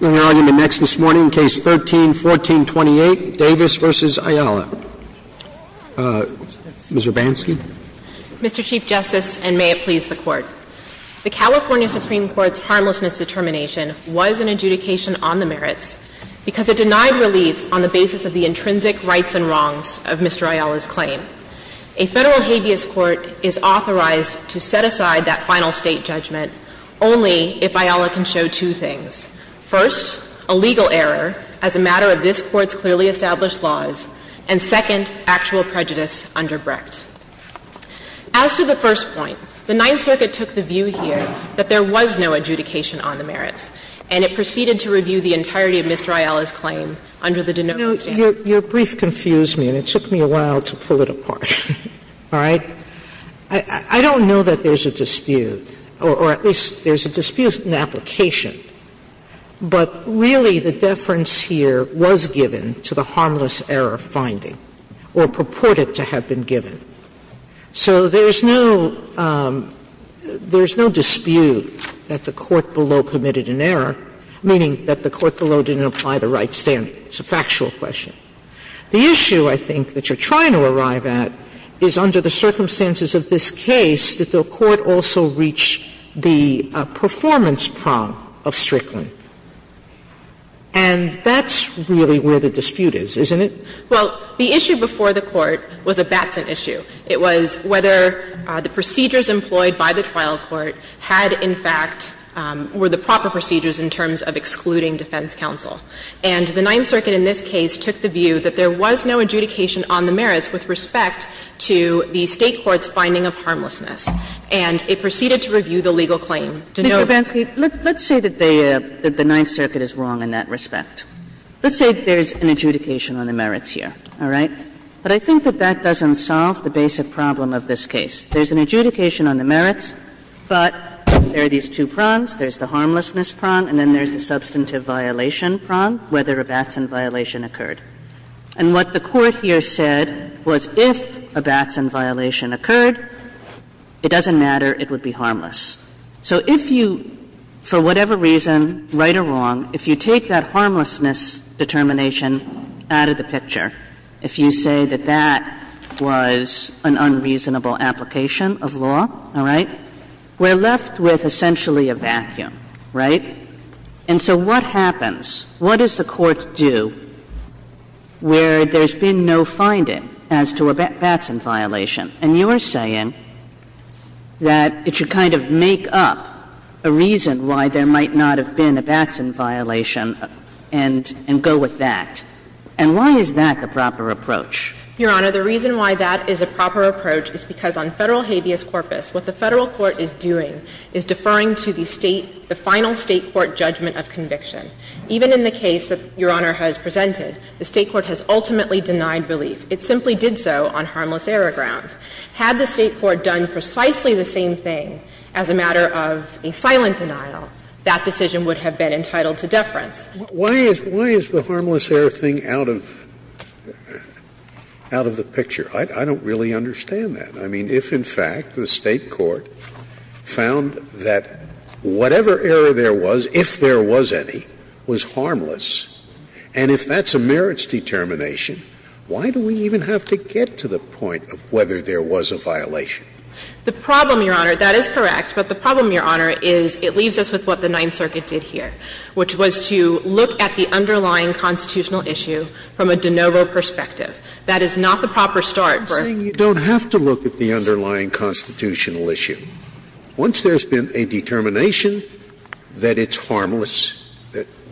We'll hear argument next this morning, Case 13-1428, Davis v. Ayala. Ms. Urbanski. Mr. Chief Justice, and may it please the Court. The California Supreme Court's harmlessness determination was an adjudication on the merits because it denied relief on the basis of the intrinsic rights and wrongs of Mr. Ayala's claim. A Federal habeas court is authorized to set aside that final State judgment only if Ayala can show two things. First, a legal error as a matter of this Court's clearly established laws, and second, actual prejudice under Brecht. As to the first point, the Ninth Circuit took the view here that there was no adjudication on the merits, and it proceeded to review the entirety of Mr. Ayala's claim under the de Novus standard. Sotomayor Your brief confused me, and it took me a while to pull it apart. All right? I don't know that there's a dispute, or at least there's a dispute in the application. But really, the deference here was given to the harmless error finding, or purported to have been given. So there's no dispute that the court below committed an error, meaning that the court below didn't apply the right standard. It's a factual question. The issue, I think, that you're trying to arrive at is under the circumstances of this case that the court also reach the performance prong of Strickland. And that's really where the dispute is, isn't it? Well, the issue before the court was a Batson issue. It was whether the procedures employed by the trial court had, in fact, were the proper procedures in terms of excluding defense counsel. And the Ninth Circuit in this case took the view that there was no adjudication on the merits with respect to the State court's finding of harmlessness. And it proceeded to review the legal claim. De Novus. Kagan Mr. Bansky, let's say that the Ninth Circuit is wrong in that respect. Let's say there's an adjudication on the merits here, all right? But I think that that doesn't solve the basic problem of this case. There's an adjudication on the merits, but there are these two prongs. There's the harmlessness prong and then there's the substantive violation prong, whether a Batson violation occurred. And what the Court here said was if a Batson violation occurred, it doesn't matter, it would be harmless. So if you, for whatever reason, right or wrong, if you take that harmlessness determination out of the picture, if you say that that was an unreasonable application of law, all right, we're left with essentially a vacuum, right? And so what happens? What does the Court do where there's been no finding as to a Batson violation? And you're saying that it should kind of make up a reason why there might not have been a Batson violation and go with that. And why is that the proper approach? Your Honor, the reason why that is a proper approach is because on Federal habeas corpus, what the Federal court is doing is deferring to the State, the final State court judgment of conviction. Even in the case that Your Honor has presented, the State court has ultimately denied relief. It simply did so on harmless error grounds. Had the State court done precisely the same thing as a matter of a silent denial, that decision would have been entitled to deference. Scalia, why is the harmless error thing out of the picture? I don't really understand that. I mean, if, in fact, the State court found that whatever error there was, if there was any, was harmless, and if that's a merits determination, why do we even have to get to the point of whether there was a violation? The problem, Your Honor, that is correct, but the problem, Your Honor, is it leaves us with what the Ninth Circuit did here, which was to look at the underlying constitutional issue from a de novo perspective. That is not the proper start for a verdict. I'm saying you don't have to look at the underlying constitutional issue. Once there's been a determination that it's harmless,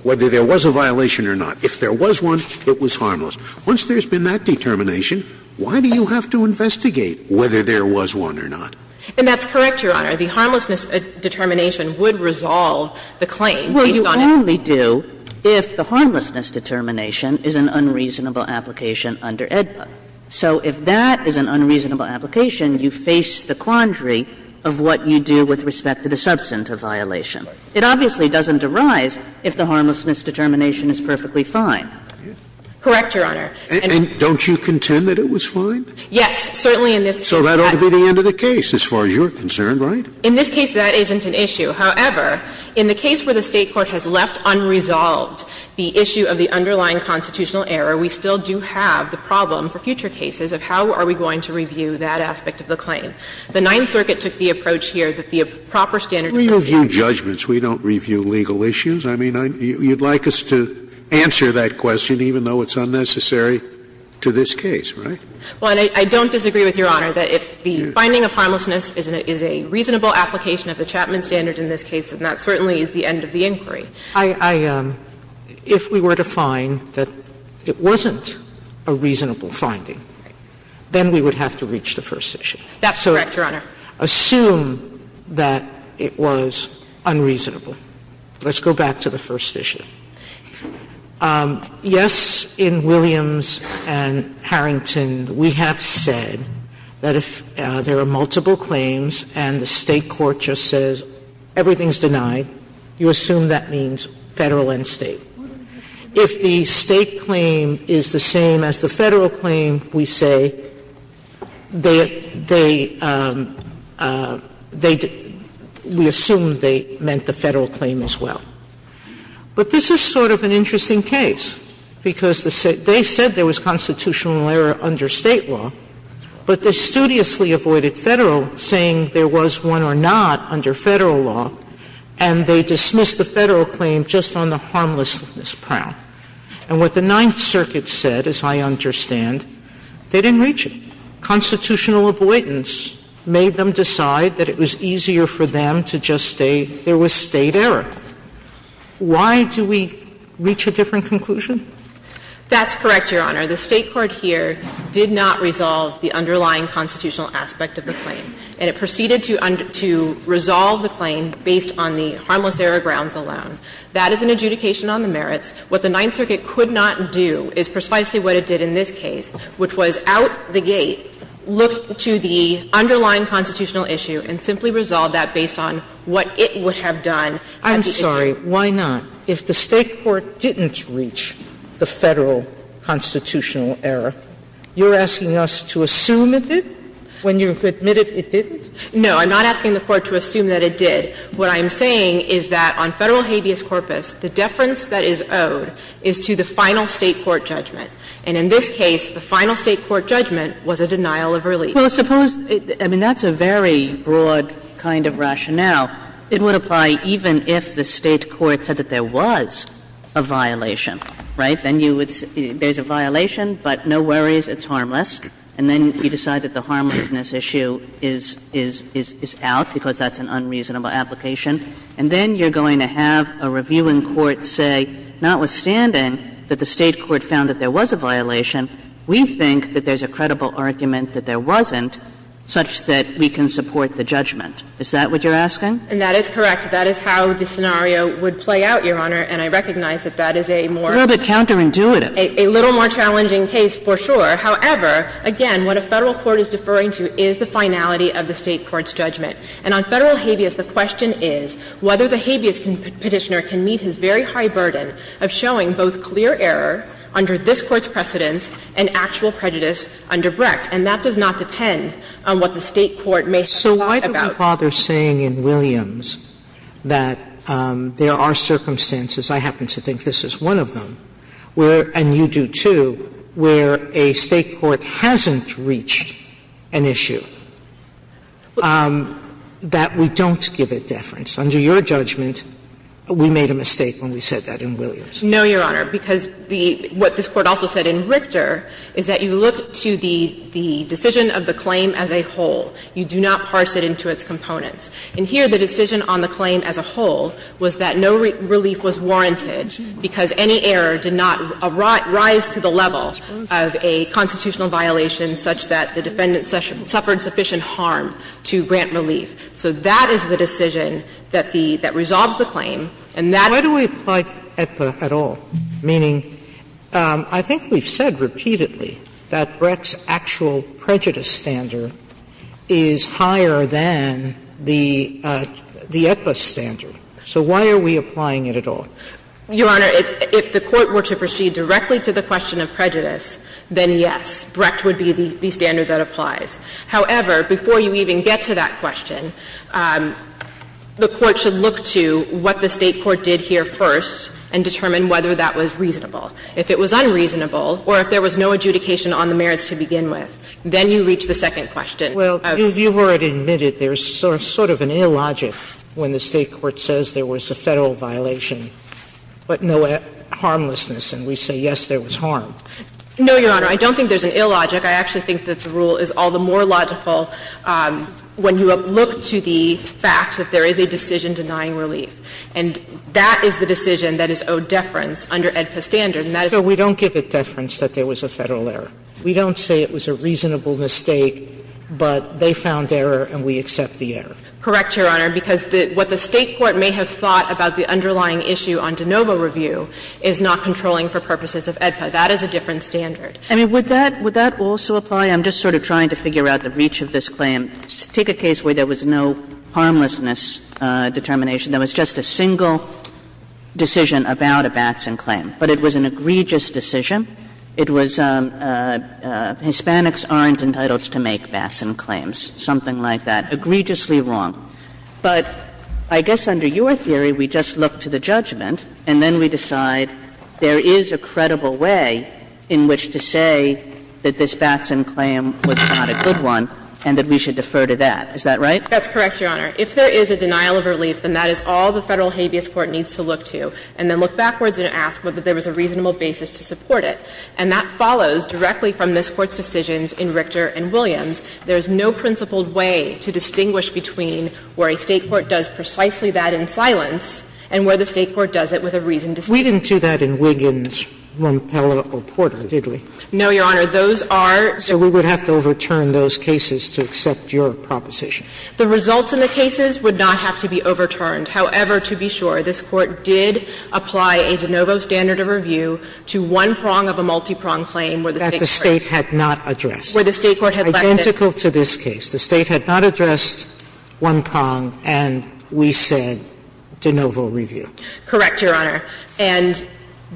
whether there was a violation or not, if there was one, it was harmless. Once there's been that determination, why do you have to investigate whether there was one or not? And that's correct, Your Honor. The harmlessness determination would resolve the claim based on its verdict. Well, you only do if the harmlessness determination is an unreasonable application under AEDPA. So if that is an unreasonable application, you face the quandary of what you do with respect to the substantive violation. It obviously doesn't arise if the harmlessness determination is perfectly fine. Correct, Your Honor. And don't you contend that it was fine? Yes, certainly in this case. So that ought to be the end of the case as far as you're concerned, right? In this case, that isn't an issue. However, in the case where the State court has left unresolved the issue of the underlying constitutional error, we still do have the problem for future cases of how are we going to review that aspect of the claim. The Ninth Circuit took the approach here that the proper standard review of the claim We don't review judgments. We don't review legal issues. I mean, you'd like us to answer that question, even though it's unnecessary to this case, right? Well, and I don't disagree with Your Honor that if the finding of harmlessness is a reasonable application of the Chapman standard in this case, then that certainly is the end of the inquiry. I am. If we were to find that it wasn't a reasonable finding, then we would have to reach the first issue. That's correct, Your Honor. Assume that it was unreasonable. Let's go back to the first issue. Yes, in Williams and Harrington, we have said that if there are multiple claims and the State court just says everything's denied, you assume that means Federal and State. If the State claim is the same as the Federal claim, we say they, they, they, we assume they meant the Federal claim as well. But this is sort of an interesting case, because the State, they said there was constitutional error under State law, but they studiously avoided Federal, saying there was one or not under Federal law, and they dismissed the Federal claim just on the harmlessness prowl. And what the Ninth Circuit said, as I understand, they didn't reach it. Constitutional avoidance made them decide that it was easier for them to just say there was State error. Why do we reach a different conclusion? That's correct, Your Honor. The State court here did not resolve the underlying constitutional aspect of the claim, and it proceeded to, to resolve the claim based on the harmless error grounds alone. That is an adjudication on the merits. What the Ninth Circuit could not do is precisely what it did in this case, which was out the gate, look to the underlying constitutional issue and simply resolve that based on what it would have done. Sotomayor, I'm sorry, why not? If the State court didn't reach the Federal constitutional error, you're asking us to assume it did when you've admitted it didn't? No, I'm not asking the Court to assume that it did. What I'm saying is that on Federal habeas corpus, the deference that is owed is to the final State court judgment. And in this case, the final State court judgment was a denial of relief. Well, suppose — I mean, that's a very broad kind of rationale. It would apply even if the State court said that there was a violation, right? Then you would say there's a violation, but no worries, it's harmless. And then you decide that the harmlessness issue is, is, is out because that's an unreasonable application. And then you're going to have a review in court say, notwithstanding that the State court found that there was a violation, we think that there's a credible argument that there wasn't such that we can support the judgment. Is that what you're asking? And that is correct. That is how the scenario would play out, Your Honor. And I recognize that that is a more — It's a little bit counterintuitive. A little more challenging case, for sure. However, again, what a Federal court is deferring to is the finality of the State court's judgment. And on Federal habeas, the question is whether the habeas Petitioner can meet his very high burden of showing both clear error under this Court's precedents And that does not depend on what the State court may have decided about. Sotomayor, why do we bother saying in Williams that there are circumstances — I happen to think this is one of them — where, and you do too, where a State court hasn't reached an issue that we don't give a deference? Under your judgment, we made a mistake when we said that in Williams. No, Your Honor, because the — what this Court also said in Richter is that you look to the decision of the claim as a whole. You do not parse it into its components. And here, the decision on the claim as a whole was that no relief was warranted because any error did not rise to the level of a constitutional violation such that the defendant suffered sufficient harm to grant relief. So that is the decision that the — that resolves the claim, and that is the decision that resolves the claim. Sotomayor, why do we fight Aetba at all, meaning, I think we've said repeatedly that Brecht's actual prejudice standard is higher than the — the Aetba standard? So why are we applying it at all? Your Honor, if the Court were to proceed directly to the question of prejudice, then, yes, Brecht would be the standard that applies. However, before you even get to that question, the Court should look to what the State court did here first and determine whether that was reasonable. If it was unreasonable, or if there was no adjudication on the merits to begin with, then you reach the second question. Sotomayor, you've already admitted there's sort of an illogic when the State court says there was a Federal violation, but no harmlessness, and we say, yes, there was harm. No, Your Honor. I don't think there's an illogic. I actually think that the rule is all the more logical when you look to the fact that there is a decision denying relief. And that is the decision that is owed deference under Aetba standard, and that is the Sotomayor, we don't give it deference that there was a Federal error. We don't say it was a reasonable mistake, but they found error and we accept the error. Correct, Your Honor, because what the State court may have thought about the underlying issue on de novo review is not controlling for purposes of Aetba. That is a different standard. I mean, would that — would that also apply? I'm just sort of trying to figure out the reach of this claim. Take a case where there was no harmlessness determination. There was just a single decision about a Batson claim, but it was an egregious decision. It was Hispanics aren't entitled to make Batson claims, something like that. Egregiously wrong. But I guess under your theory, we just look to the judgment and then we decide there is a credible way in which to say that this Batson claim was not a good one and that we should defer to that. Is that right? That's correct, Your Honor. If there is a denial of relief, then that is all the Federal habeas court needs to look to and then look backwards and ask whether there was a reasonable basis to support it. And that follows directly from this Court's decisions in Richter and Williams. There is no principled way to distinguish between where a State court does precisely that in silence and where the State court does it with a reasoned decision. We didn't do that in Wiggins, Rompel, or Porter, did we? No, Your Honor. Those are the ones that we have to overturn. And we have to overturn those cases to accept your proposition. The results in the cases would not have to be overturned. However, to be sure, this Court did apply a de novo standard of review to one prong of a multi-prong claim where the State court had not addressed, identical to this case. The State had not addressed one prong and we said de novo review. Correct, Your Honor. And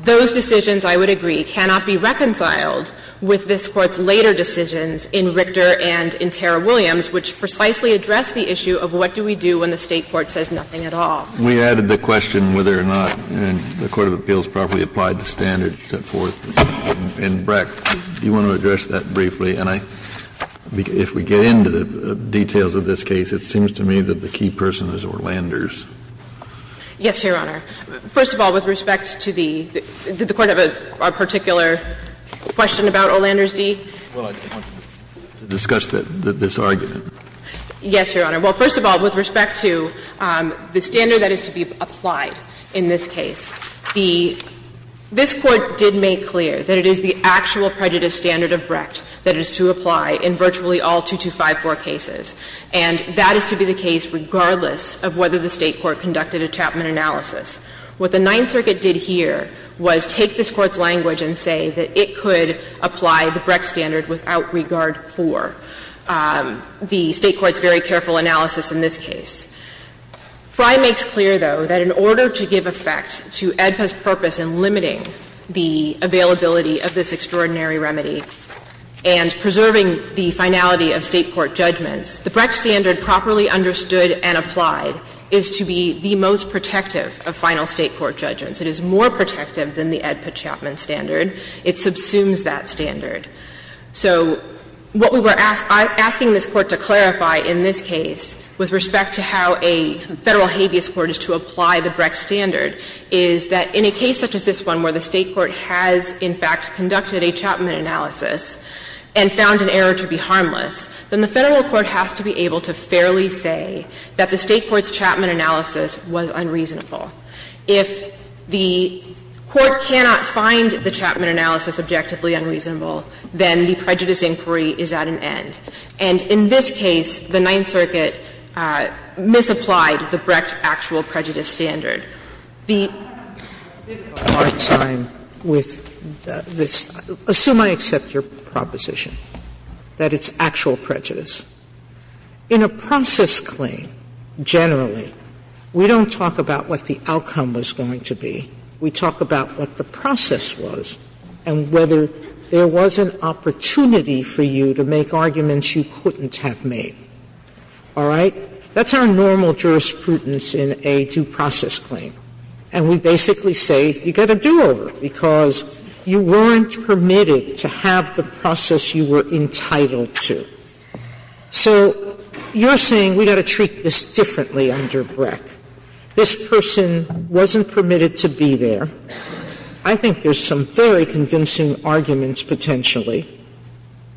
those decisions, I would agree, cannot be reconciled with this Court's later decisions in Richter and in Tara Williams, which precisely address the issue of what do we do when the State court says nothing at all. We added the question whether or not the court of appeals properly applied the standard set forth in Breck. Do you want to address that briefly? And I think if we get into the details of this case, it seems to me that the key person is Orlander's. Yes, Your Honor. First of all, with respect to the question about Orlander's D. Well, I want to discuss this argument. Yes, Your Honor. Well, first of all, with respect to the standard that is to be applied in this case, the – this Court did make clear that it is the actual prejudice standard of Brecht that is to apply in virtually all 2254 cases. And that is to be the case regardless of whether the State court conducted a Chapman analysis. What the Ninth Circuit did here was take this Court's language and say that it could apply the Brecht standard without regard for the State court's very careful analysis in this case. Fry makes clear, though, that in order to give effect to AEDPA's purpose in limiting the availability of this extraordinary remedy and preserving the finality of State court judgments, the Brecht standard properly understood and applied is to be the most protective of final State court judgments. It is more protective than the AEDPA Chapman standard. It subsumes that standard. So what we were asking this Court to clarify in this case with respect to how a Federal habeas court is to apply the Brecht standard is that in a case such as this one where the State court has in fact conducted a Chapman analysis and found an error to be harmless, then the Federal court has to be able to fairly say that the State court's analysis is objectively unreasonable. If the Court cannot find the Chapman analysis objectively unreasonable, then the prejudice inquiry is at an end. And in this case, the Ninth Circuit misapplied the Brecht actual prejudice standard. The ---- Sotomayor, I'm having a bit of a hard time with this. Assume I accept your proposition that it's actual prejudice. In a process claim, generally, we don't talk about what the outcome was going to be. We talk about what the process was and whether there was an opportunity for you to make arguments you couldn't have made. All right? That's our normal jurisprudence in a due process claim. And we basically say you get a do-over because you weren't permitted to have the process you were entitled to. So you're saying we've got to treat this differently under Brecht. This person wasn't permitted to be there. I think there's some very convincing arguments, potentially,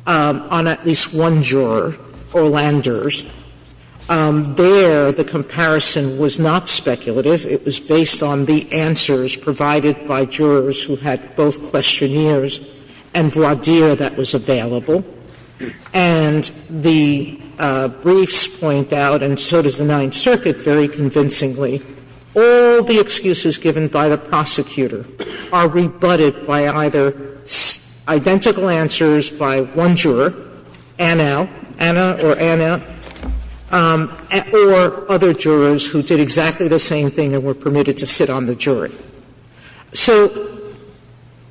on at least one juror or landers. There, the comparison was not speculative. It was based on the answers provided by jurors who had both questionnaires and voir dire that was available. And the briefs point out, and so does the Ninth Circuit, very convincingly, all the excuses given by the prosecutor are rebutted by either identical answers by one juror, Anna, Anna or Anna, or other jurors who did exactly the same thing and were permitted to sit on the jury. So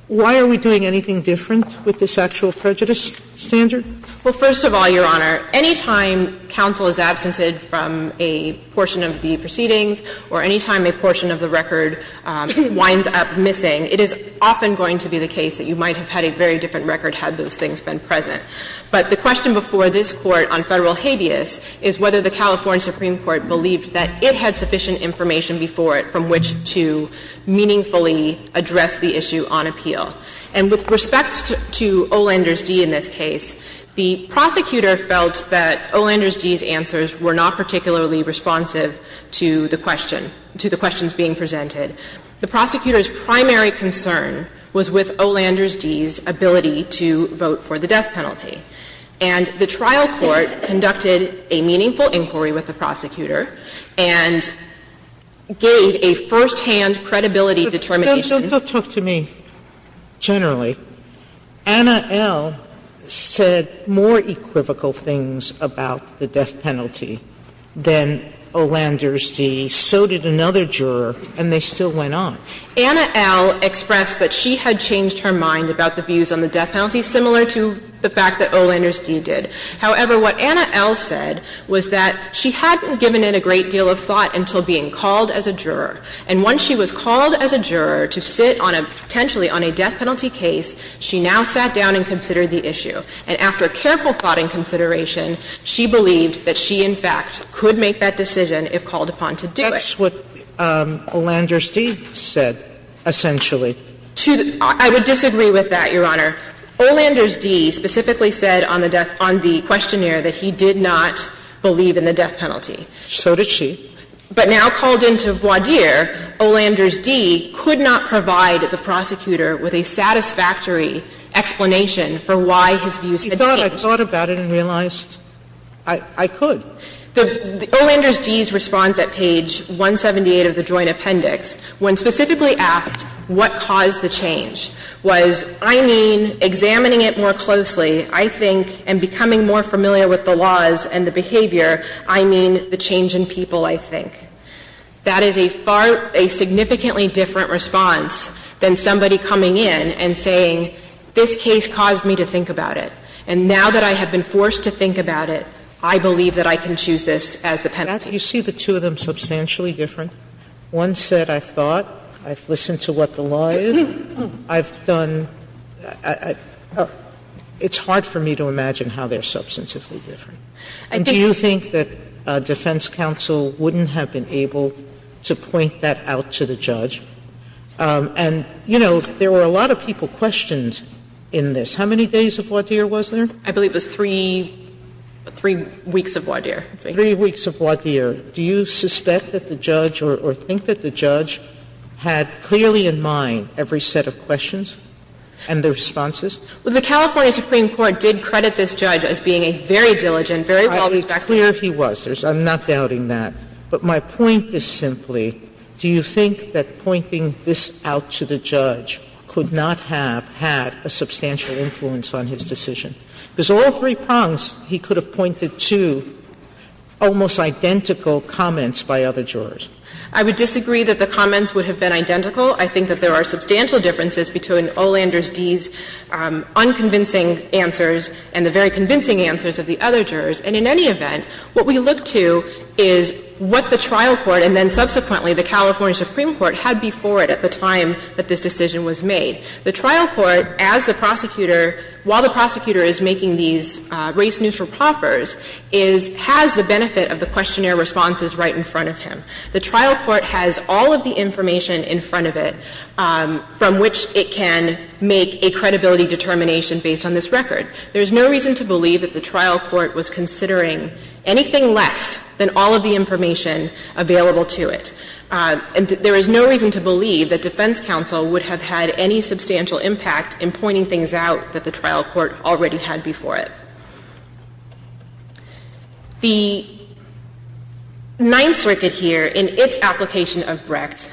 why are we doing anything different with this actual prejudice standard? Well, first of all, Your Honor, any time counsel is absented from a portion of the proceedings or any time a portion of the record winds up missing, it is often going to be the case that you might have had a very different record had those things been present. But the question before this Court on Federal habeas is whether the California Supreme Court believed that it had sufficient information before it from which to meaningfully address the issue on appeal. And with respect to Olander's D in this case, the prosecutor felt that Olander's D's answers were not particularly responsive to the question, to the questions being presented. The prosecutor's primary concern was with Olander's D's ability to vote for the death penalty. And the trial court conducted a meaningful inquiry with the prosecutor and gave a firsthand credibility determination. Sotomayor, don't talk to me generally. Anna L. said more equivocal things about the death penalty than Olander's D. So did another juror, and they still went on. Anna L. expressed that she had changed her mind about the views on the death penalty similar to the fact that Olander's D did. However, what Anna L. said was that she hadn't given it a great deal of thought until being called as a juror. And once she was called as a juror to sit on a – potentially on a death penalty case, she now sat down and considered the issue. And after careful thought and consideration, she believed that she, in fact, could make that decision if called upon to do it. Sotomayor, that's what Olander's D said, essentially. I would disagree with that, Your Honor. Olander's D specifically said on the death – on the questionnaire that he did not believe in the death penalty. So did she. But now called into voir dire, Olander's D could not provide the prosecutor with a satisfactory explanation for why his views had changed. He thought – I thought about it and realized I could. Olander's D's response at page 178 of the Joint Appendix, when specifically asked what caused the change, was, I mean, examining it more closely, I think, and becoming more familiar with the laws and the behavior, I mean the change in people, I think. That is a far – a significantly different response than somebody coming in and saying, this case caused me to think about it. And now that I have been forced to think about it, I believe that I can choose this as the penalty. Sotomayor, you see the two of them substantially different? One said, I thought, I've listened to what the law is, I've done – it's hard for me to imagine how they're substantively different. And do you think that defense counsel wouldn't have been able to point that out to the judge? And, you know, there were a lot of people questioned in this. How many days of voir dire was there? I believe it was three – three weeks of voir dire. Three weeks of voir dire. Do you suspect that the judge, or think that the judge, had clearly in mind every set of questions and the responses? Well, the California Supreme Court did credit this judge as being a very diligent, very well-respected judge. It's clear he was. I'm not doubting that. But my point is simply, do you think that pointing this out to the judge could not have had a substantial influence on his decision? Because all three prongs, he could have pointed to almost identical comments by other jurors. I would disagree that the comments would have been identical. I think that there are substantial differences between Olander's D's unconvincing answers and the very convincing answers of the other jurors. And in any event, what we look to is what the trial court and then subsequently the California Supreme Court had before it at the time that this decision was made. The trial court, as the prosecutor, while the prosecutor is making these race-neutral proffers, is — has the benefit of the questionnaire responses right in front of him. The trial court has all of the information in front of it from which it can make a credibility determination based on this record. There is no reason to believe that the trial court was considering anything less than all of the information available to it. And there is no reason to believe that defense counsel would have had any substantial impact in pointing things out that the trial court already had before it. The Ninth Circuit here, in its application of Brecht,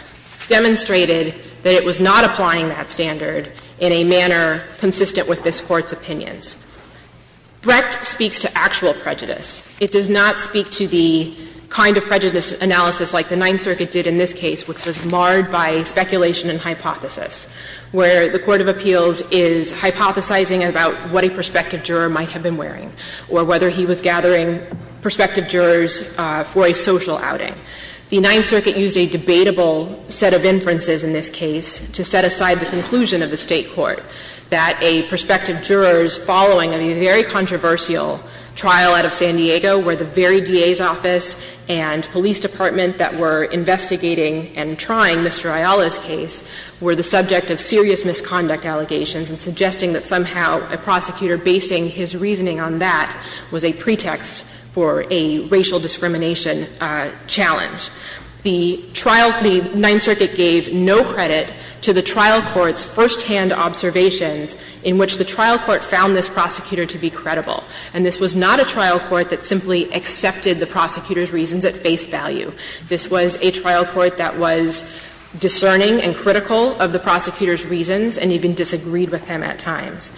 demonstrated that it was not applying that standard in a manner consistent with this Court's opinions. Brecht speaks to actual prejudice. It does not speak to the kind of prejudice analysis like the Ninth Circuit did in this case, which was marred by speculation and hypothesis, where the court of appeals is hypothesizing about what a prospective juror might have been wearing or whether he was gathering prospective jurors for a social outing. The Ninth Circuit used a debatable set of inferences in this case to set aside the conclusion of the State court that a prospective juror's following a very controversial trial out of San Diego, where the very DA's office and police department that were investigating and trying Mr. Ayala's case were the subject of serious misconduct allegations, and suggesting that somehow a prosecutor basing his reasoning on that was a pretext for a racial discrimination challenge. The trial – the Ninth Circuit gave no credit to the trial court's firsthand observations in which the trial court found this prosecutor to be credible. And this was not a trial court that simply accepted the prosecutor's reasons at face value. This was a trial court that was discerning and critical of the prosecutor's reasons and even disagreed with him at times.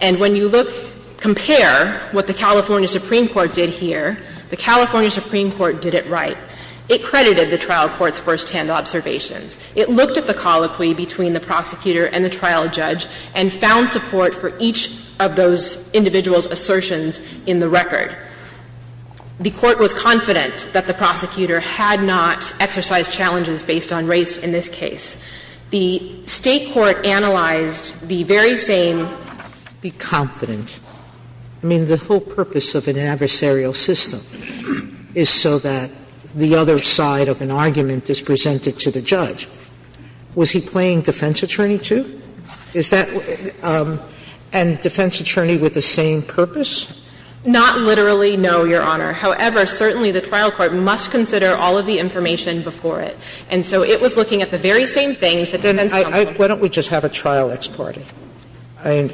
And when you look, compare what the California Supreme Court did here, the California Supreme Court did it right. It credited the trial court's firsthand observations. It looked at the colloquy between the prosecutor and the trial judge and found support for each of those individuals' assertions in the record. The court was confident that the prosecutor had not exercised challenges based on race in this case. The State court analyzed the very same – Sotomayor's defense was to be confident. I mean, the whole purpose of an adversarial system is so that the other side of an argument is presented to the judge. Was he playing defense attorney, too? Is that – and defense attorney with the same purpose? Not literally, no, Your Honor. However, certainly the trial court must consider all of the information before it. And so it was looking at the very same things that defense counsel – Then why don't we just have a trial ex parte? I mean,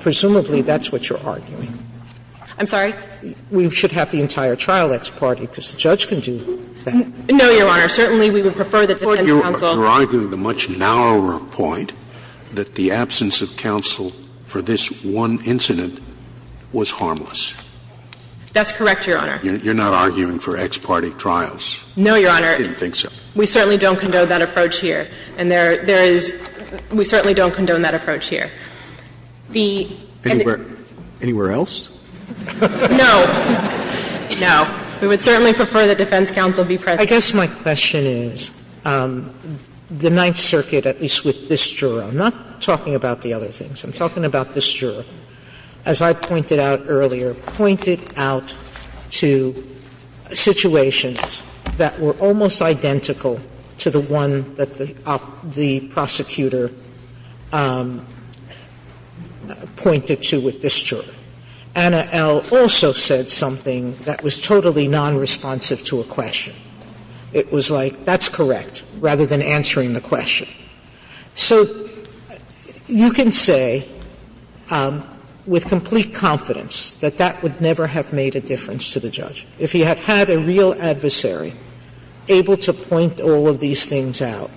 presumably that's what you're arguing. I'm sorry? We should have the entire trial ex parte because the judge can do that. No, Your Honor. Certainly we would prefer that defense counsel – That the absence of counsel for this one incident was harmless. That's correct, Your Honor. You're not arguing for ex parte trials? No, Your Honor. I didn't think so. We certainly don't condone that approach here. And there is – we certainly don't condone that approach here. The – Anywhere else? No. No. We would certainly prefer that defense counsel be present. I guess my question is, the Ninth Circuit, at least with this juror – I'm not talking about the other things. I'm talking about this juror. As I pointed out earlier, pointed out to situations that were almost identical to the one that the prosecutor pointed to with this juror. Anna L. also said something that was totally nonresponsive to a question. It was like, that's correct, rather than answering the question. So you can say with complete confidence that that would never have made a difference to the judge. If he had had a real adversary able to point all of these things out,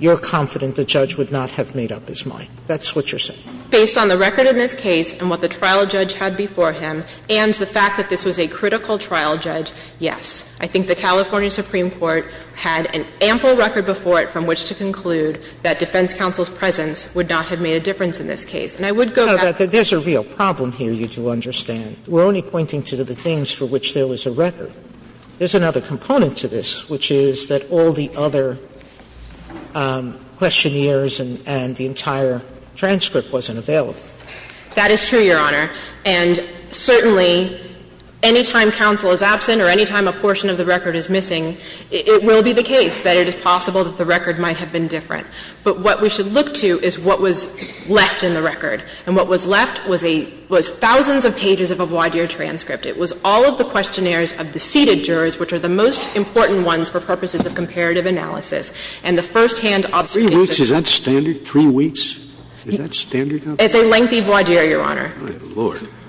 you're confident the judge would not have made up his mind. That's what you're saying. Based on the record in this case and what the trial judge had before him, and the fact that this was a critical trial judge, yes. I think the California Supreme Court had an ample record before it from which to conclude that defense counsel's presence would not have made a difference in this case. And I would go back to the other things. Sotomayor There's a real problem here, you do understand. We're only pointing to the things for which there was a record. There's another component to this, which is that all the other questionnaires and the entire transcript wasn't available. That is true, Your Honor. And certainly, any time counsel is absent or any time a portion of the record is missing, it will be the case that it is possible that the record might have been different. But what we should look to is what was left in the record. And what was left was a — was thousands of pages of a voir dire transcript. It was all of the questionnaires of the seated jurors, which are the most important ones for purposes of comparative analysis. And the first-hand observations of the jurors were not available. Scalia Is that standard, three weeks? Is that standard out there? Sotomayor It's a lengthy voir dire, Your Honor. Scalia Oh, my Lord. Sotomayor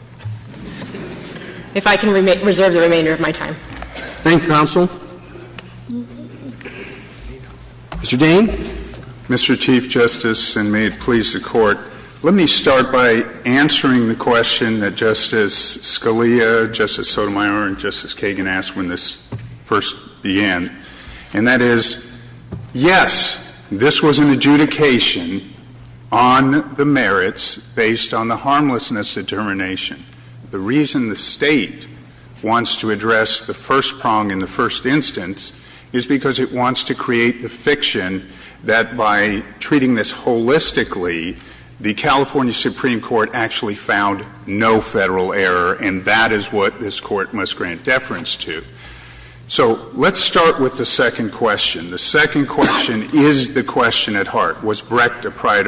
If I can reserve the remainder of my time. Roberts Thank you, counsel. Mr. Dean. Dean Mr. Chief Justice, and may it please the Court, let me start by answering the question that Justice Scalia, Justice Sotomayor, and Justice Kagan asked when this first began, and that is, yes, this was an adjudication on the merits based on the harmlessness determination. The reason the State wants to address the first prong in the first instance is because it wants to create the fiction that by treating this holistically, the California Supreme Court actually found no Federal error, and that is what this Court must grant deference to. So let's start with the second question. The second question is the question at heart. Was Brecht applied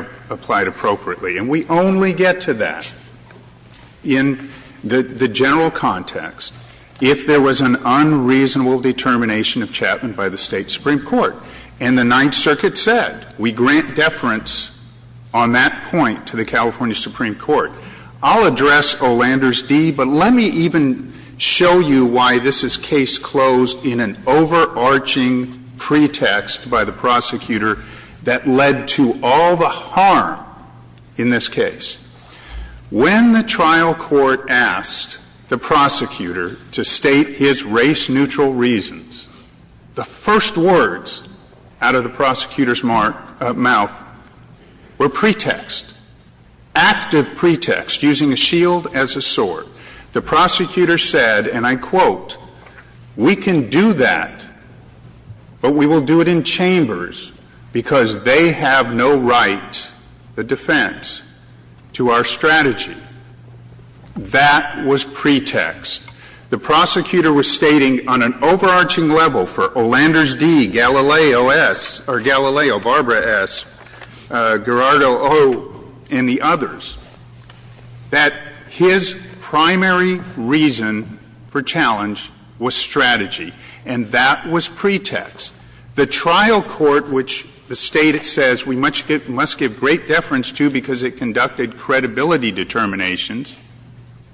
appropriately? And we only get to that in the general context if there was an unreasonable determination of Chapman by the State Supreme Court. And the Ninth Circuit said we grant deference on that point to the California Supreme Court. I'll address Olander's D, but let me even show you why this is case closed in an overarching pretext by the prosecutor that led to all the harm in this case. When the trial court asked the prosecutor to state his race-neutral reasons, the first words out of the prosecutor's mouth were pretext, active pretext, using a shield as a sword. The prosecutor said, and I quote, we can do that, but we will do it in chambers because they have no right, the defense, to our strategy. That was pretext. The prosecutor was stating on an overarching level for Olander's D, Galileo S, or the primary reason for challenge was strategy, and that was pretext. The trial court, which the State says we must give great deference to because it conducted credibility determinations,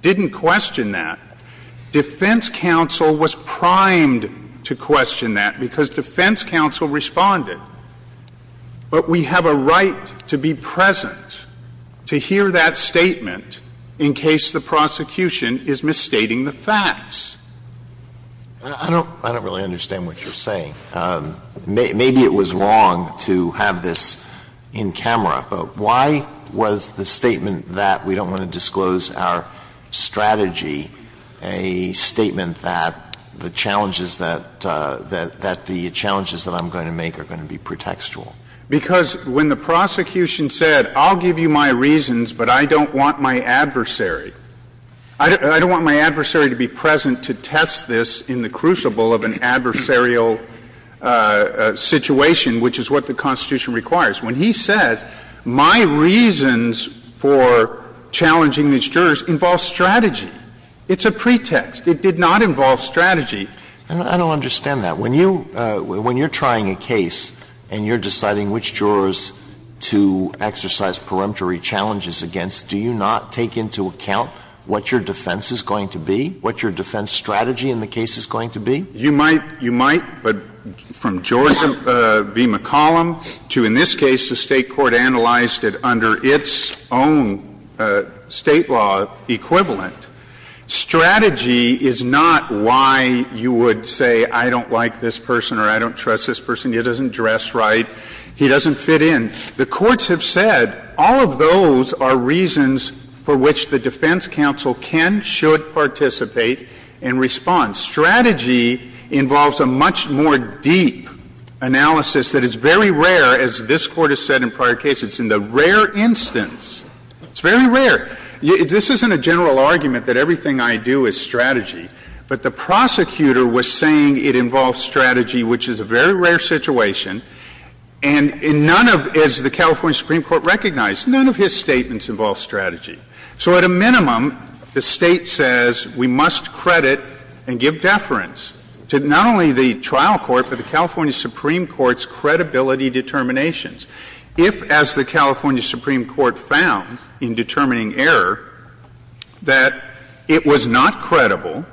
didn't question that. Defense counsel was primed to question that because defense counsel responded. But we have a right to be present, to hear that statement in case the prosecutor in question is misstating the facts. Alito, I don't really understand what you're saying. Maybe it was wrong to have this in camera, but why was the statement that we don't want to disclose our strategy a statement that the challenges that I'm going to make are going to be pretextual? Because when the prosecution said, I'll give you my reasons, but I don't want my adversary, I don't want my adversary to be present to test this in the crucible of an adversarial situation, which is what the Constitution requires. When he says, my reasons for challenging these jurors involve strategy, it's a pretext. It did not involve strategy. I don't understand that. When you're trying a case and you're deciding which jurors to exercise peremptory challenges against, do you not take into account what your defense is going to be, what your defense strategy in the case is going to be? You might, you might, but from George v. McCollum to in this case, the State court analyzed it under its own State law equivalent. Strategy is not why you would say, I don't like this person or I don't trust this person, he doesn't dress right, he doesn't fit in. The courts have said all of those are reasons for which the defense counsel can, should participate and respond. Strategy involves a much more deep analysis that is very rare, as this Court has said in prior cases, in the rare instance. It's very rare. This isn't a general argument that everything I do is strategy, but the prosecutor was saying it involves strategy, which is a very rare situation. And in none of, as the California Supreme Court recognized, none of his statements involve strategy. So at a minimum, the State says we must credit and give deference to not only the trial court, but the California Supreme Court's credibility determinations. If, as the California Supreme Court found in determining error, that it was not credible,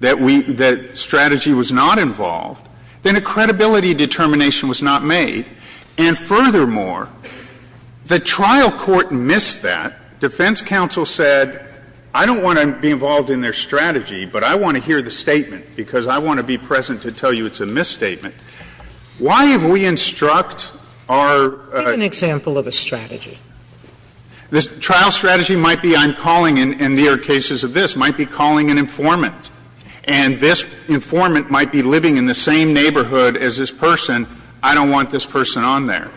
that we, that strategy was not involved, then a credibility determination was not made. And furthermore, the trial court missed that. Defense counsel said, I don't want to be involved in their strategy, but I want to hear the statement, because I want to be present to tell you it's a misstatement. Why have we instruct our ---- Sotomayor, give an example of a strategy. The trial strategy might be I'm calling in, in the rare cases of this, might be calling an informant, and this informant might be living in the same neighborhood as this person, I don't want this person on there.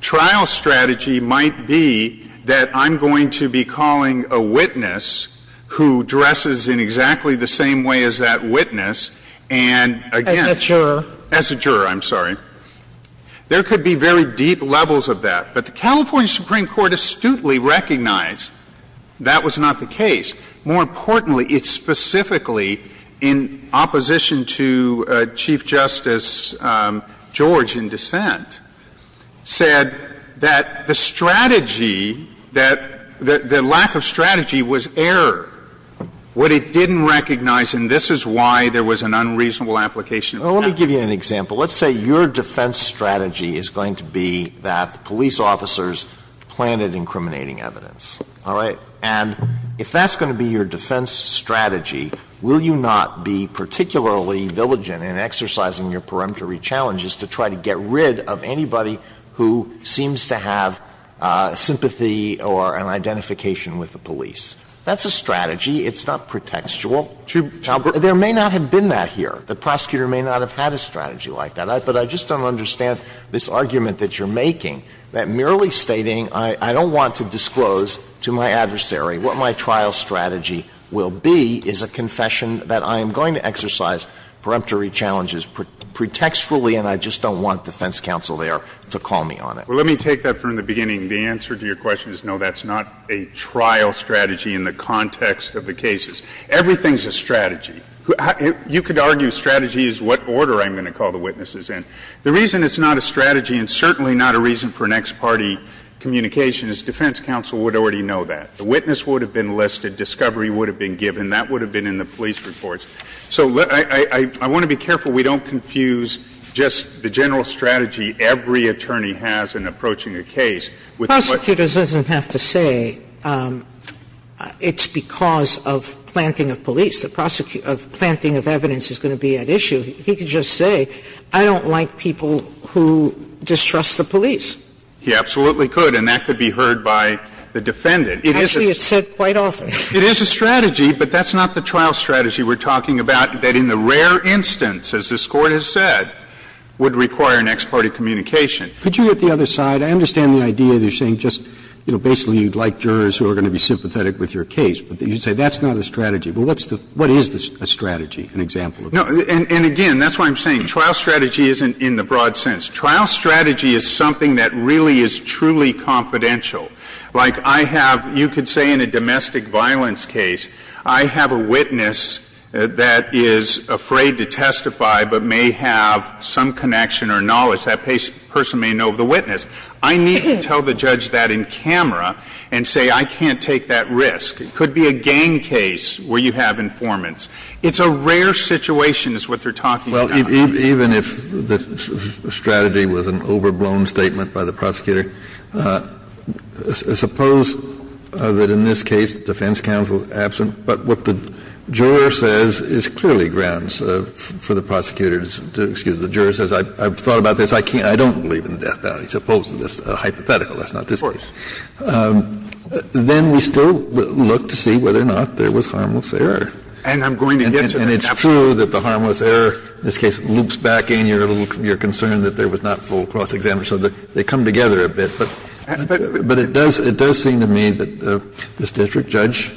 Trial strategy might be that I'm going to be calling a witness who dresses in exactly the same way as that witness, and again, as a juror, I'm sorry. There could be very deep levels of that. But the California Supreme Court astutely recognized that was not the case. More importantly, it specifically, in opposition to Chief Justice George in dissent, said that the strategy, that the lack of strategy was error. What it didn't recognize, and this is why there was an unreasonable application of the statute. Alito, let me give you an example. Let's say your defense strategy is going to be that the police officers planted incriminating evidence, all right? And if that's going to be your defense strategy, will you not be particularly diligent in exercising your peremptory challenges to try to get rid of anybody who seems to have sympathy or an identification with the police? That's a strategy. It's not pretextual. There may not have been that here. The prosecutor may not have had a strategy like that. But I just don't understand this argument that you're making, that merely stating I don't want to disclose to my adversary what my trial strategy will be is a confession that I am going to exercise peremptory challenges pretextually, and I just don't want defense counsel there to call me on it. Well, let me take that from the beginning. The answer to your question is no, that's not a trial strategy in the context of the cases. Everything's a strategy. You could argue strategy is what order I'm going to call the witnesses in. The reason it's not a strategy and certainly not a reason for an ex parte communication is defense counsel would already know that. The witness would have been listed, discovery would have been given. That would have been in the police reports. So I want to be careful we don't confuse just the general strategy every attorney has in approaching a case with the question. Sotomayor, Prosecutors doesn't have to say it's because of planting of police. The prosecuting of evidence is going to be at issue. He could just say, I don't like people who distrust the police. He absolutely could, and that could be heard by the defendant. Actually, it's said quite often. It is a strategy, but that's not the trial strategy we're talking about, that in the rare instance, as this Court has said, would require an ex parte communication. Could you at the other side, I understand the idea that you're saying just, you know, basically you'd like jurors who are going to be sympathetic with your case, but you would say that's not a strategy. Well, what's the – what is a strategy, an example of that? No, and again, that's what I'm saying. Trial strategy isn't in the broad sense. Trial strategy is something that really is truly confidential. Like, I have – you could say in a domestic violence case, I have a witness that is afraid to testify, but may have some connection or knowledge. That person may know of the witness. I need to tell the judge that in camera and say, I can't take that risk. It could be a gang case where you have informants. It's a rare situation is what they're talking about. Well, even if the strategy was an overblown statement by the prosecutor, suppose that in this case the defense counsel is absent, but what the juror says is clearly grounds for the prosecutor to excuse. The juror says, I've thought about this, I can't – I don't believe in the death value, suppose that's a hypothetical, that's not the case. Of course. Then we still look to see whether or not there was harmless error. And I'm going to get to that. And it's true that the harmless error in this case loops back in your concern that there was not full cross-examination. They come together a bit. But it does seem to me that this district judge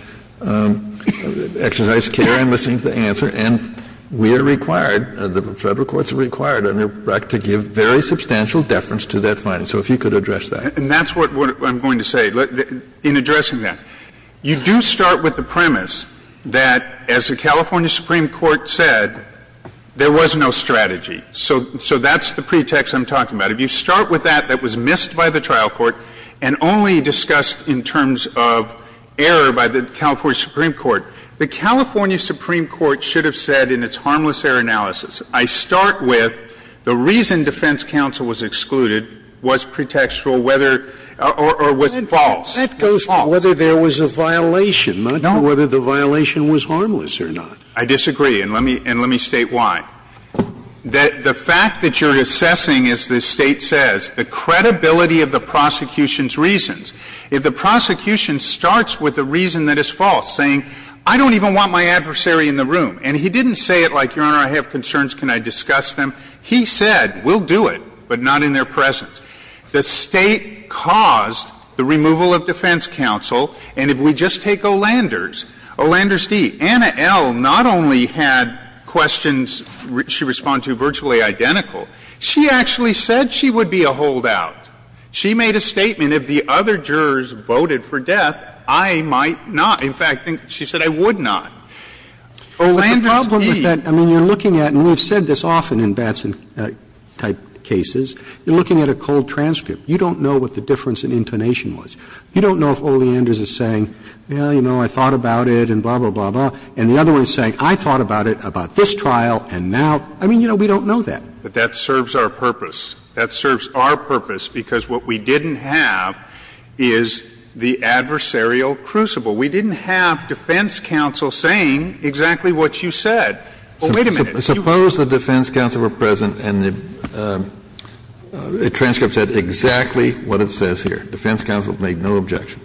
exercised care in listening to the answer. And we are required, the Federal courts are required under BRAC, to give very substantial deference to that finding. So if you could address that. And that's what I'm going to say. In addressing that, you do start with the premise that, as the California Supreme Court said, there was no strategy. So that's the pretext I'm talking about. If you start with that, that was missed by the trial court and only discussed in terms of error by the California Supreme Court, the California Supreme Court should have said in its harmless error analysis, I start with the reason defense counsel was excluded, was pretextual, whether, or was it false. It's false. Scalia. That goes to whether there was a violation, not to whether the violation was harmless or not. I disagree. And let me state why. The fact that you're assessing, as this State says, the credibility of the prosecution's reasons. If the prosecution starts with a reason that is false, saying, I don't even want my adversary in the room. And he didn't say it like, Your Honor, I have concerns, can I discuss them? He said, we'll do it, but not in their presence. The State caused the removal of defense counsel. And if we just take Olander's, Olander's D, Anna L. not only had questions she responded to virtually identical, she actually said she would be a holdout. She made a statement, if the other jurors voted for death, I might not. In fact, she said, I would not. Olander's D. I mean, you're looking at, and we've said this often in Batson-type cases, you're looking at a cold transcript. You don't know what the difference in intonation was. You don't know if Olander's is saying, well, you know, I thought about it and blah, blah, blah, blah. And the other one is saying, I thought about it about this trial and now. I mean, you know, we don't know that. But that serves our purpose. That serves our purpose, because what we didn't have is the adversarial crucible. We didn't have defense counsel saying exactly what you said. Oh, wait a minute. Kennedy, you've got to be kidding me. Kennedy, you've got to be kidding me. Suppose the defense counsel were present and the transcript said exactly what it says here. Defense counsel made no objection.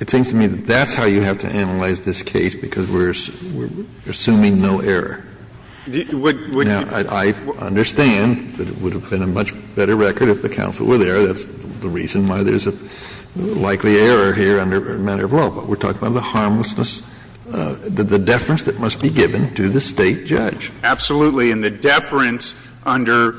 It seems to me that that's how you have to analyze this case, because we're assuming no error. Now, I understand that it would have been a much better record if the counsel were there. That's the reason why there's a likely error here under a matter of law. But we're talking about the harmlessness, the deference that must be given to the State judge. Absolutely. And the deference under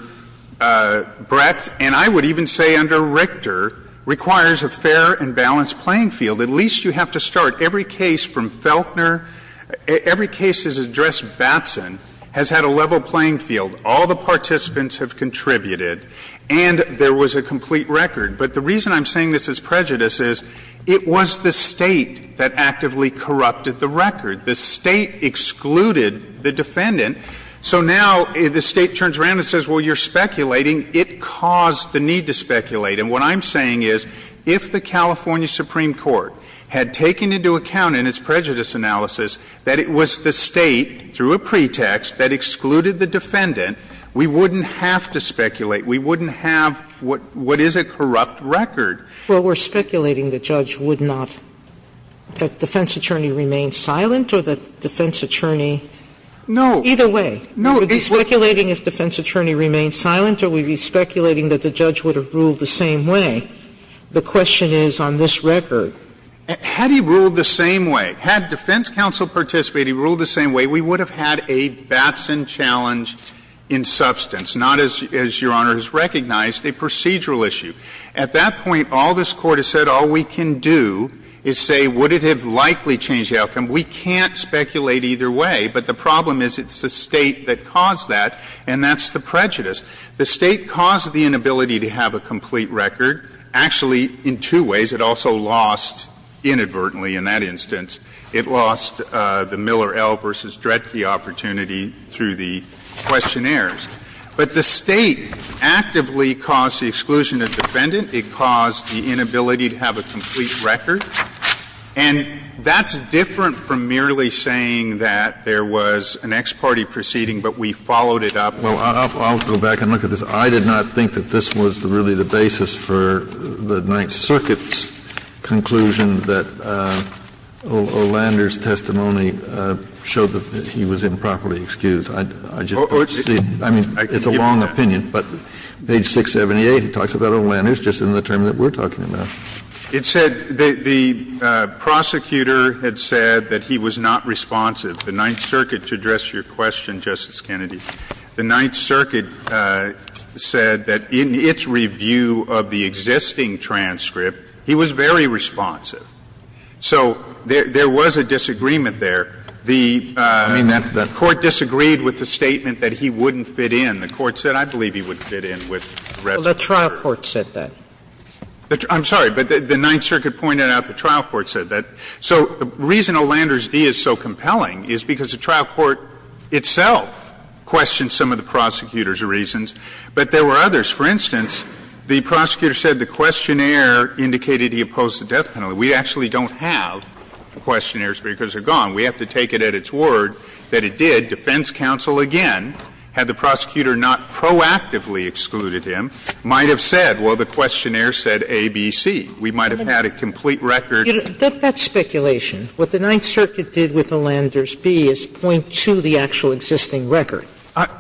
Brett, and I would even say under Richter, requires a fair and balanced playing field. At least you have to start. Every case from Felkner, every case that has addressed Batson has had a level playing field. All the participants have contributed. And there was a complete record. But the reason I'm saying this is prejudice is it was the State that actively corrupted the record. The State excluded the defendant. So now the State turns around and says, well, you're speculating. It caused the need to speculate. And what I'm saying is if the California Supreme Court had taken into account in its prejudice analysis that it was the State, through a pretext, that excluded the defendant, we wouldn't have to speculate. We wouldn't have what is a corrupt record. Sotomayor Well, we're speculating the judge would not – that the defense attorney remains silent or that the defense attorney – either way. Sotomayor We would be speculating if the defense attorney remains silent, or we would be speculating that the judge would have ruled the same way. The question is on this record. Had he ruled the same way, had defense counsel participated, he ruled the same way, we would have had a Batson challenge in substance, not, as Your Honor has recognized, a procedural issue. At that point, all this Court has said all we can do is say would it have likely changed the outcome. We can't speculate either way. But the problem is it's the State that caused that, and that's the prejudice. The State caused the inability to have a complete record. Actually, in two ways. It also lost inadvertently in that instance. It lost the Miller L. v. Dredge opportunity through the questionnaires. But the State actively caused the exclusion of the defendant. It caused the inability to have a complete record. And that's different from merely saying that there was an ex parte proceeding, but we followed it up. Kennedy Well, I'll go back and look at this. I did not think that this was really the basis for the Ninth Circuit's conclusion that O'Lander's testimony showed that he was improperly excused. I just don't see it. I mean, it's a long opinion, but page 678, it talks about O'Lander's just in the term that we're talking about. Verrilli, It said the prosecutor had said that he was not responsive. The Ninth Circuit, to address your question, Justice Kennedy, the Ninth Circuit said that in its review of the existing transcript, he was very responsive. So there was a disagreement there. The Court disagreed with the statement that he wouldn't fit in. The Court said, I believe he would fit in with the rest of the jury. Sotomayor Well, the trial court said that. Verrilli, I'm sorry, but the Ninth Circuit pointed out the trial court said that. So the reason O'Lander's D is so compelling is because the trial court itself questioned some of the prosecutor's reasons, but there were others. For instance, the prosecutor said the questionnaire indicated he opposed the death penalty. We actually don't have questionnaires because they're gone. We have to take it at its word that it did. Defense counsel, again, had the prosecutor not proactively excluded him, might have said, well, the questionnaire said A, B, C. We might have had a complete record. Sotomayor That's speculation. What the Ninth Circuit did with O'Lander's B is point to the actual existing record.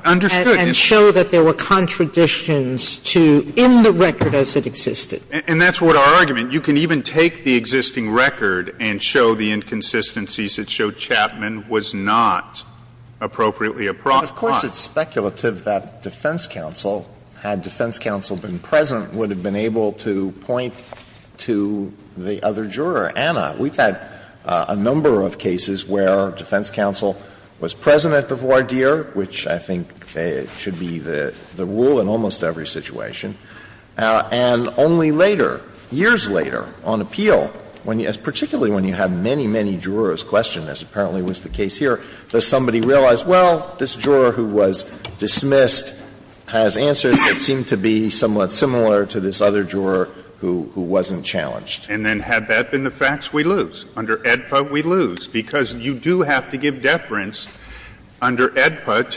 And show that there were contradictions to end the record as it existed. Verrilli, And that's what our argument. You can even take the existing record and show the inconsistencies. It showed Chapman was not appropriately appropriate. Alito But of course it's speculative that defense counsel, had defense counsel been present, would have been able to point to the other juror, Anna. We've had a number of cases where defense counsel was present at the voir dire, which I think should be the rule in almost every situation. And only later, years later, on appeal, particularly when you have many, many jurors question this, apparently was the case here, does somebody realize, well, this juror who was dismissed has answers that seem to be somewhat similar to this other juror who wasn't challenged. And then had that been the facts, we lose. Under AEDPA, we lose. Because you do have to give deference under AEDPA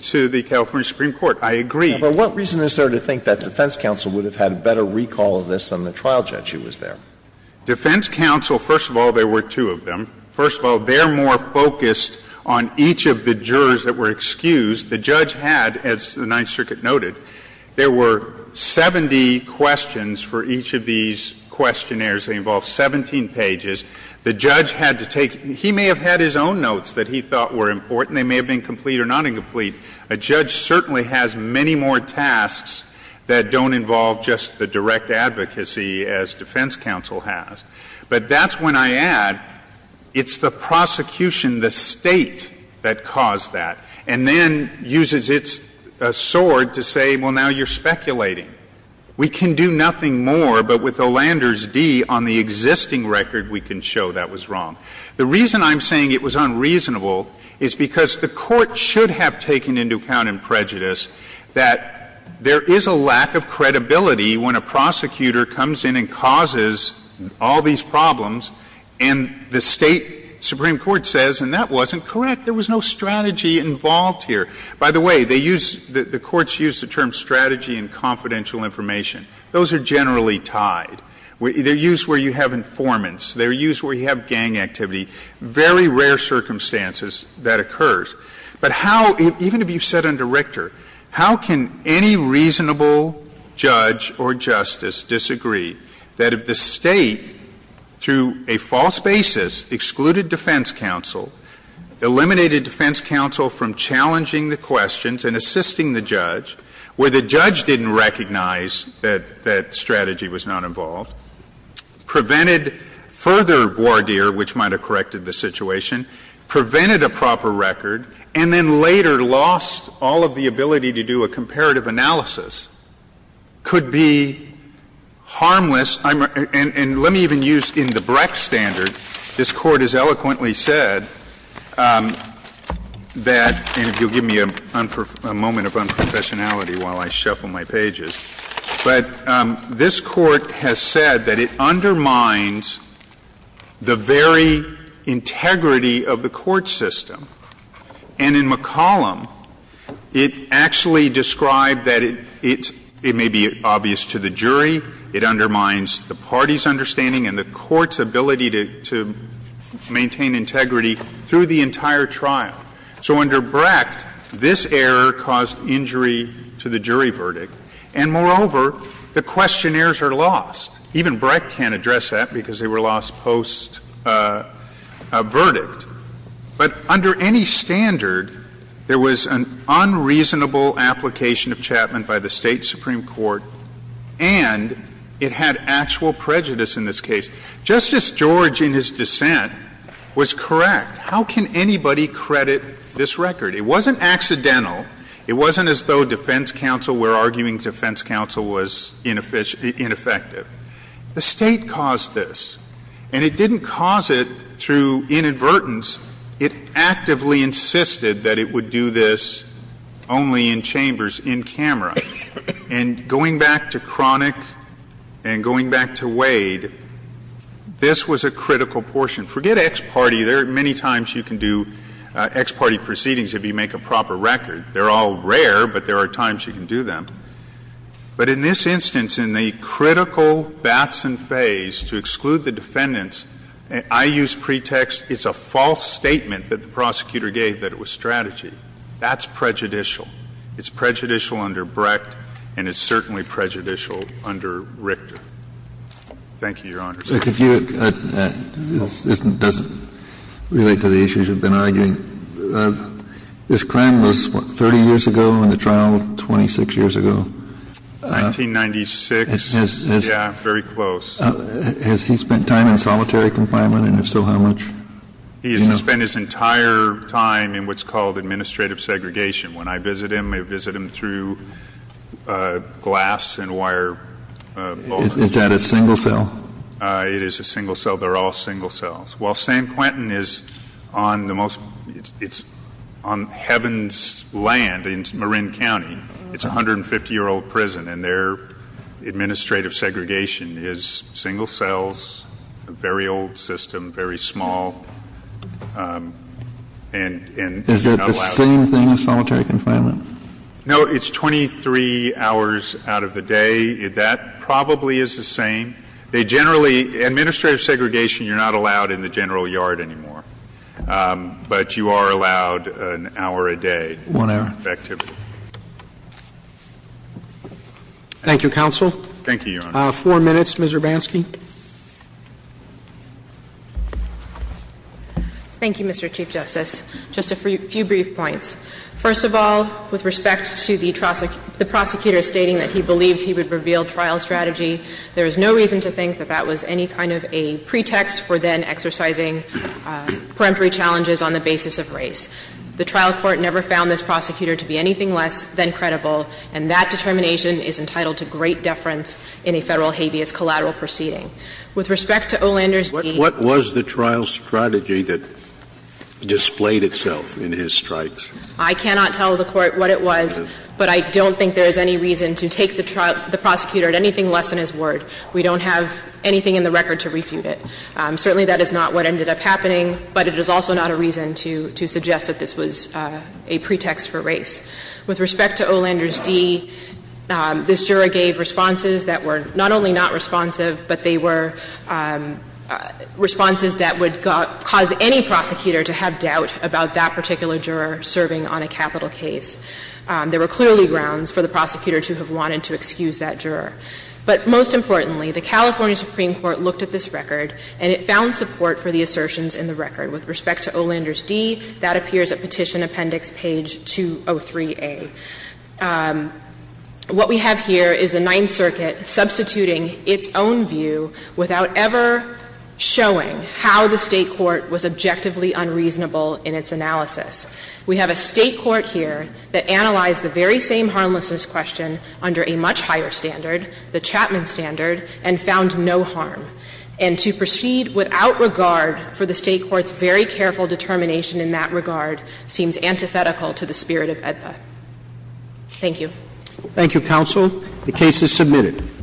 to the California Supreme Court. I agree. But what reason is there to think that defense counsel would have had a better recall of this than the trial judge who was there? Defense counsel, first of all, there were two of them. First of all, they're more focused on each of the jurors that were excused. The judge had, as the Ninth Circuit noted, there were 70 questions for each of these questionnaires. They involved 17 pages. The judge had to take — he may have had his own notes that he thought were important. They may have been complete or not incomplete. A judge certainly has many more tasks that don't involve just the direct advocacy as defense counsel has. But that's when I add, it's the prosecution, the State, that caused that, and then uses its sword to say, well, now you're speculating. We can do nothing more, but with Olander's D on the existing record, we can show that was wrong. The reason I'm saying it was unreasonable is because the Court should have taken into account in prejudice that there is a lack of credibility when a prosecutor comes in and causes all these problems, and the State supreme court says, and that wasn't correct, there was no strategy involved here. By the way, they use — the courts use the term strategy and confidential information. Those are generally tied. They're used where you have informants. They're used where you have gang activity. Very rare circumstances that occurs. But how — even if you've said under Richter, how can any reasonable judge or justice disagree that if the State, through a false basis, excluded defense counsel, eliminated defense counsel from challenging the questions and assisting the judge, where the judge didn't recognize that strategy was not involved, prevented further voir dire, which might have corrected the situation, prevented a proper record, and then later lost all of the ability to do a comparative analysis, could be harmless And let me even use in the Brex standard, this Court has eloquently said that — and if you'll give me a moment of unprofessionality while I shuffle my pages — but this Court has said that it undermines the very integrity of the court system. And in McCollum, it actually described that it's — it may be obvious to the jury, it undermines the party's understanding and the court's ability to maintain integrity through the entire trial. So under Brecht, this error caused injury to the jury verdict. And moreover, the questionnaires are lost. Even Brecht can't address that because they were lost post-verdict. But under any standard, there was an unreasonable application of Chapman by the State Supreme Court, and it had actual prejudice in this case. Justice George, in his dissent, was correct. How can anybody credit this record? It wasn't accidental. It wasn't as though defense counsel were arguing defense counsel was ineffective. The State caused this. And it didn't cause it through inadvertence. It actively insisted that it would do this only in chambers, in camera. And going back to Cronick and going back to Wade, this was a critical portion. Forget ex parte. There are many times you can do ex parte proceedings if you make a proper record. They're all rare, but there are times you can do them. But in this instance, in the critical bats and phase to exclude the defendants, I use pretext, it's a false statement that the prosecutor gave that it was strategy. That's prejudicial. It's prejudicial under Brecht, and it's certainly prejudicial under Richter. Thank you, Your Honor. Kennedy. It doesn't relate to the issues you've been arguing. This crime was, what, 30 years ago in the trial, 26 years ago? 1996. Yeah, very close. Has he spent time in solitary confinement, and if so, how much? He has spent his entire time in what's called administrative segregation. When I visit him, I visit him through glass and wire. Is that a single cell? It is a single cell. They're all single cells. While San Quentin is on the most — it's on heaven's land in Marin County. It's a 150-year-old prison, and their administrative segregation is single cells, a very old system, very small, and not allowed. Is it the same thing as solitary confinement? No, it's 23 hours out of the day. That probably is the same. They generally — administrative segregation, you're not allowed in the general yard anymore. But you are allowed an hour a day. One hour. Effectively. Thank you, counsel. Thank you, Your Honor. Four minutes. Ms. Urbanski. Thank you, Mr. Chief Justice. Just a few brief points. First of all, with respect to the prosecutor stating that he believed he would reveal trial strategy, there is no reason to think that that was any kind of a pretext for then exercising peremptory challenges on the basis of race. The trial court never found this prosecutor to be anything less than credible, and that determination is entitled to great deference in a Federal habeas collateral proceeding. With respect to O'Lander's deed to the trial court, what was the trial strategy that displayed itself in his strikes? I cannot tell the Court what it was, but I don't think there is any reason to take the prosecutor at anything less than his word. We don't have anything in the record to refute it. Certainly, that is not what ended up happening, but it is also not a reason to suggest that this was a pretext for race. With respect to O'Lander's deed, this juror gave responses that were not only not credible, but they were not credible enough for any prosecutor to have doubt about that particular juror serving on a capital case. There were clearly grounds for the prosecutor to have wanted to excuse that juror. But most importantly, the California Supreme Court looked at this record and it found support for the assertions in the record. With respect to O'Lander's deed, that appears at Petition Appendix page 203a. What we have here is the Ninth Circuit substituting its own view without ever showing how the State court was objectively unreasonable in its analysis. We have a State court here that analyzed the very same harmlessness question under a much higher standard, the Chapman standard, and found no harm. And to proceed without regard for the State court's very careful determination in that regard seems antithetical to the spirit of AEDPA. Thank you. Thank you, Counsel. The case is submitted.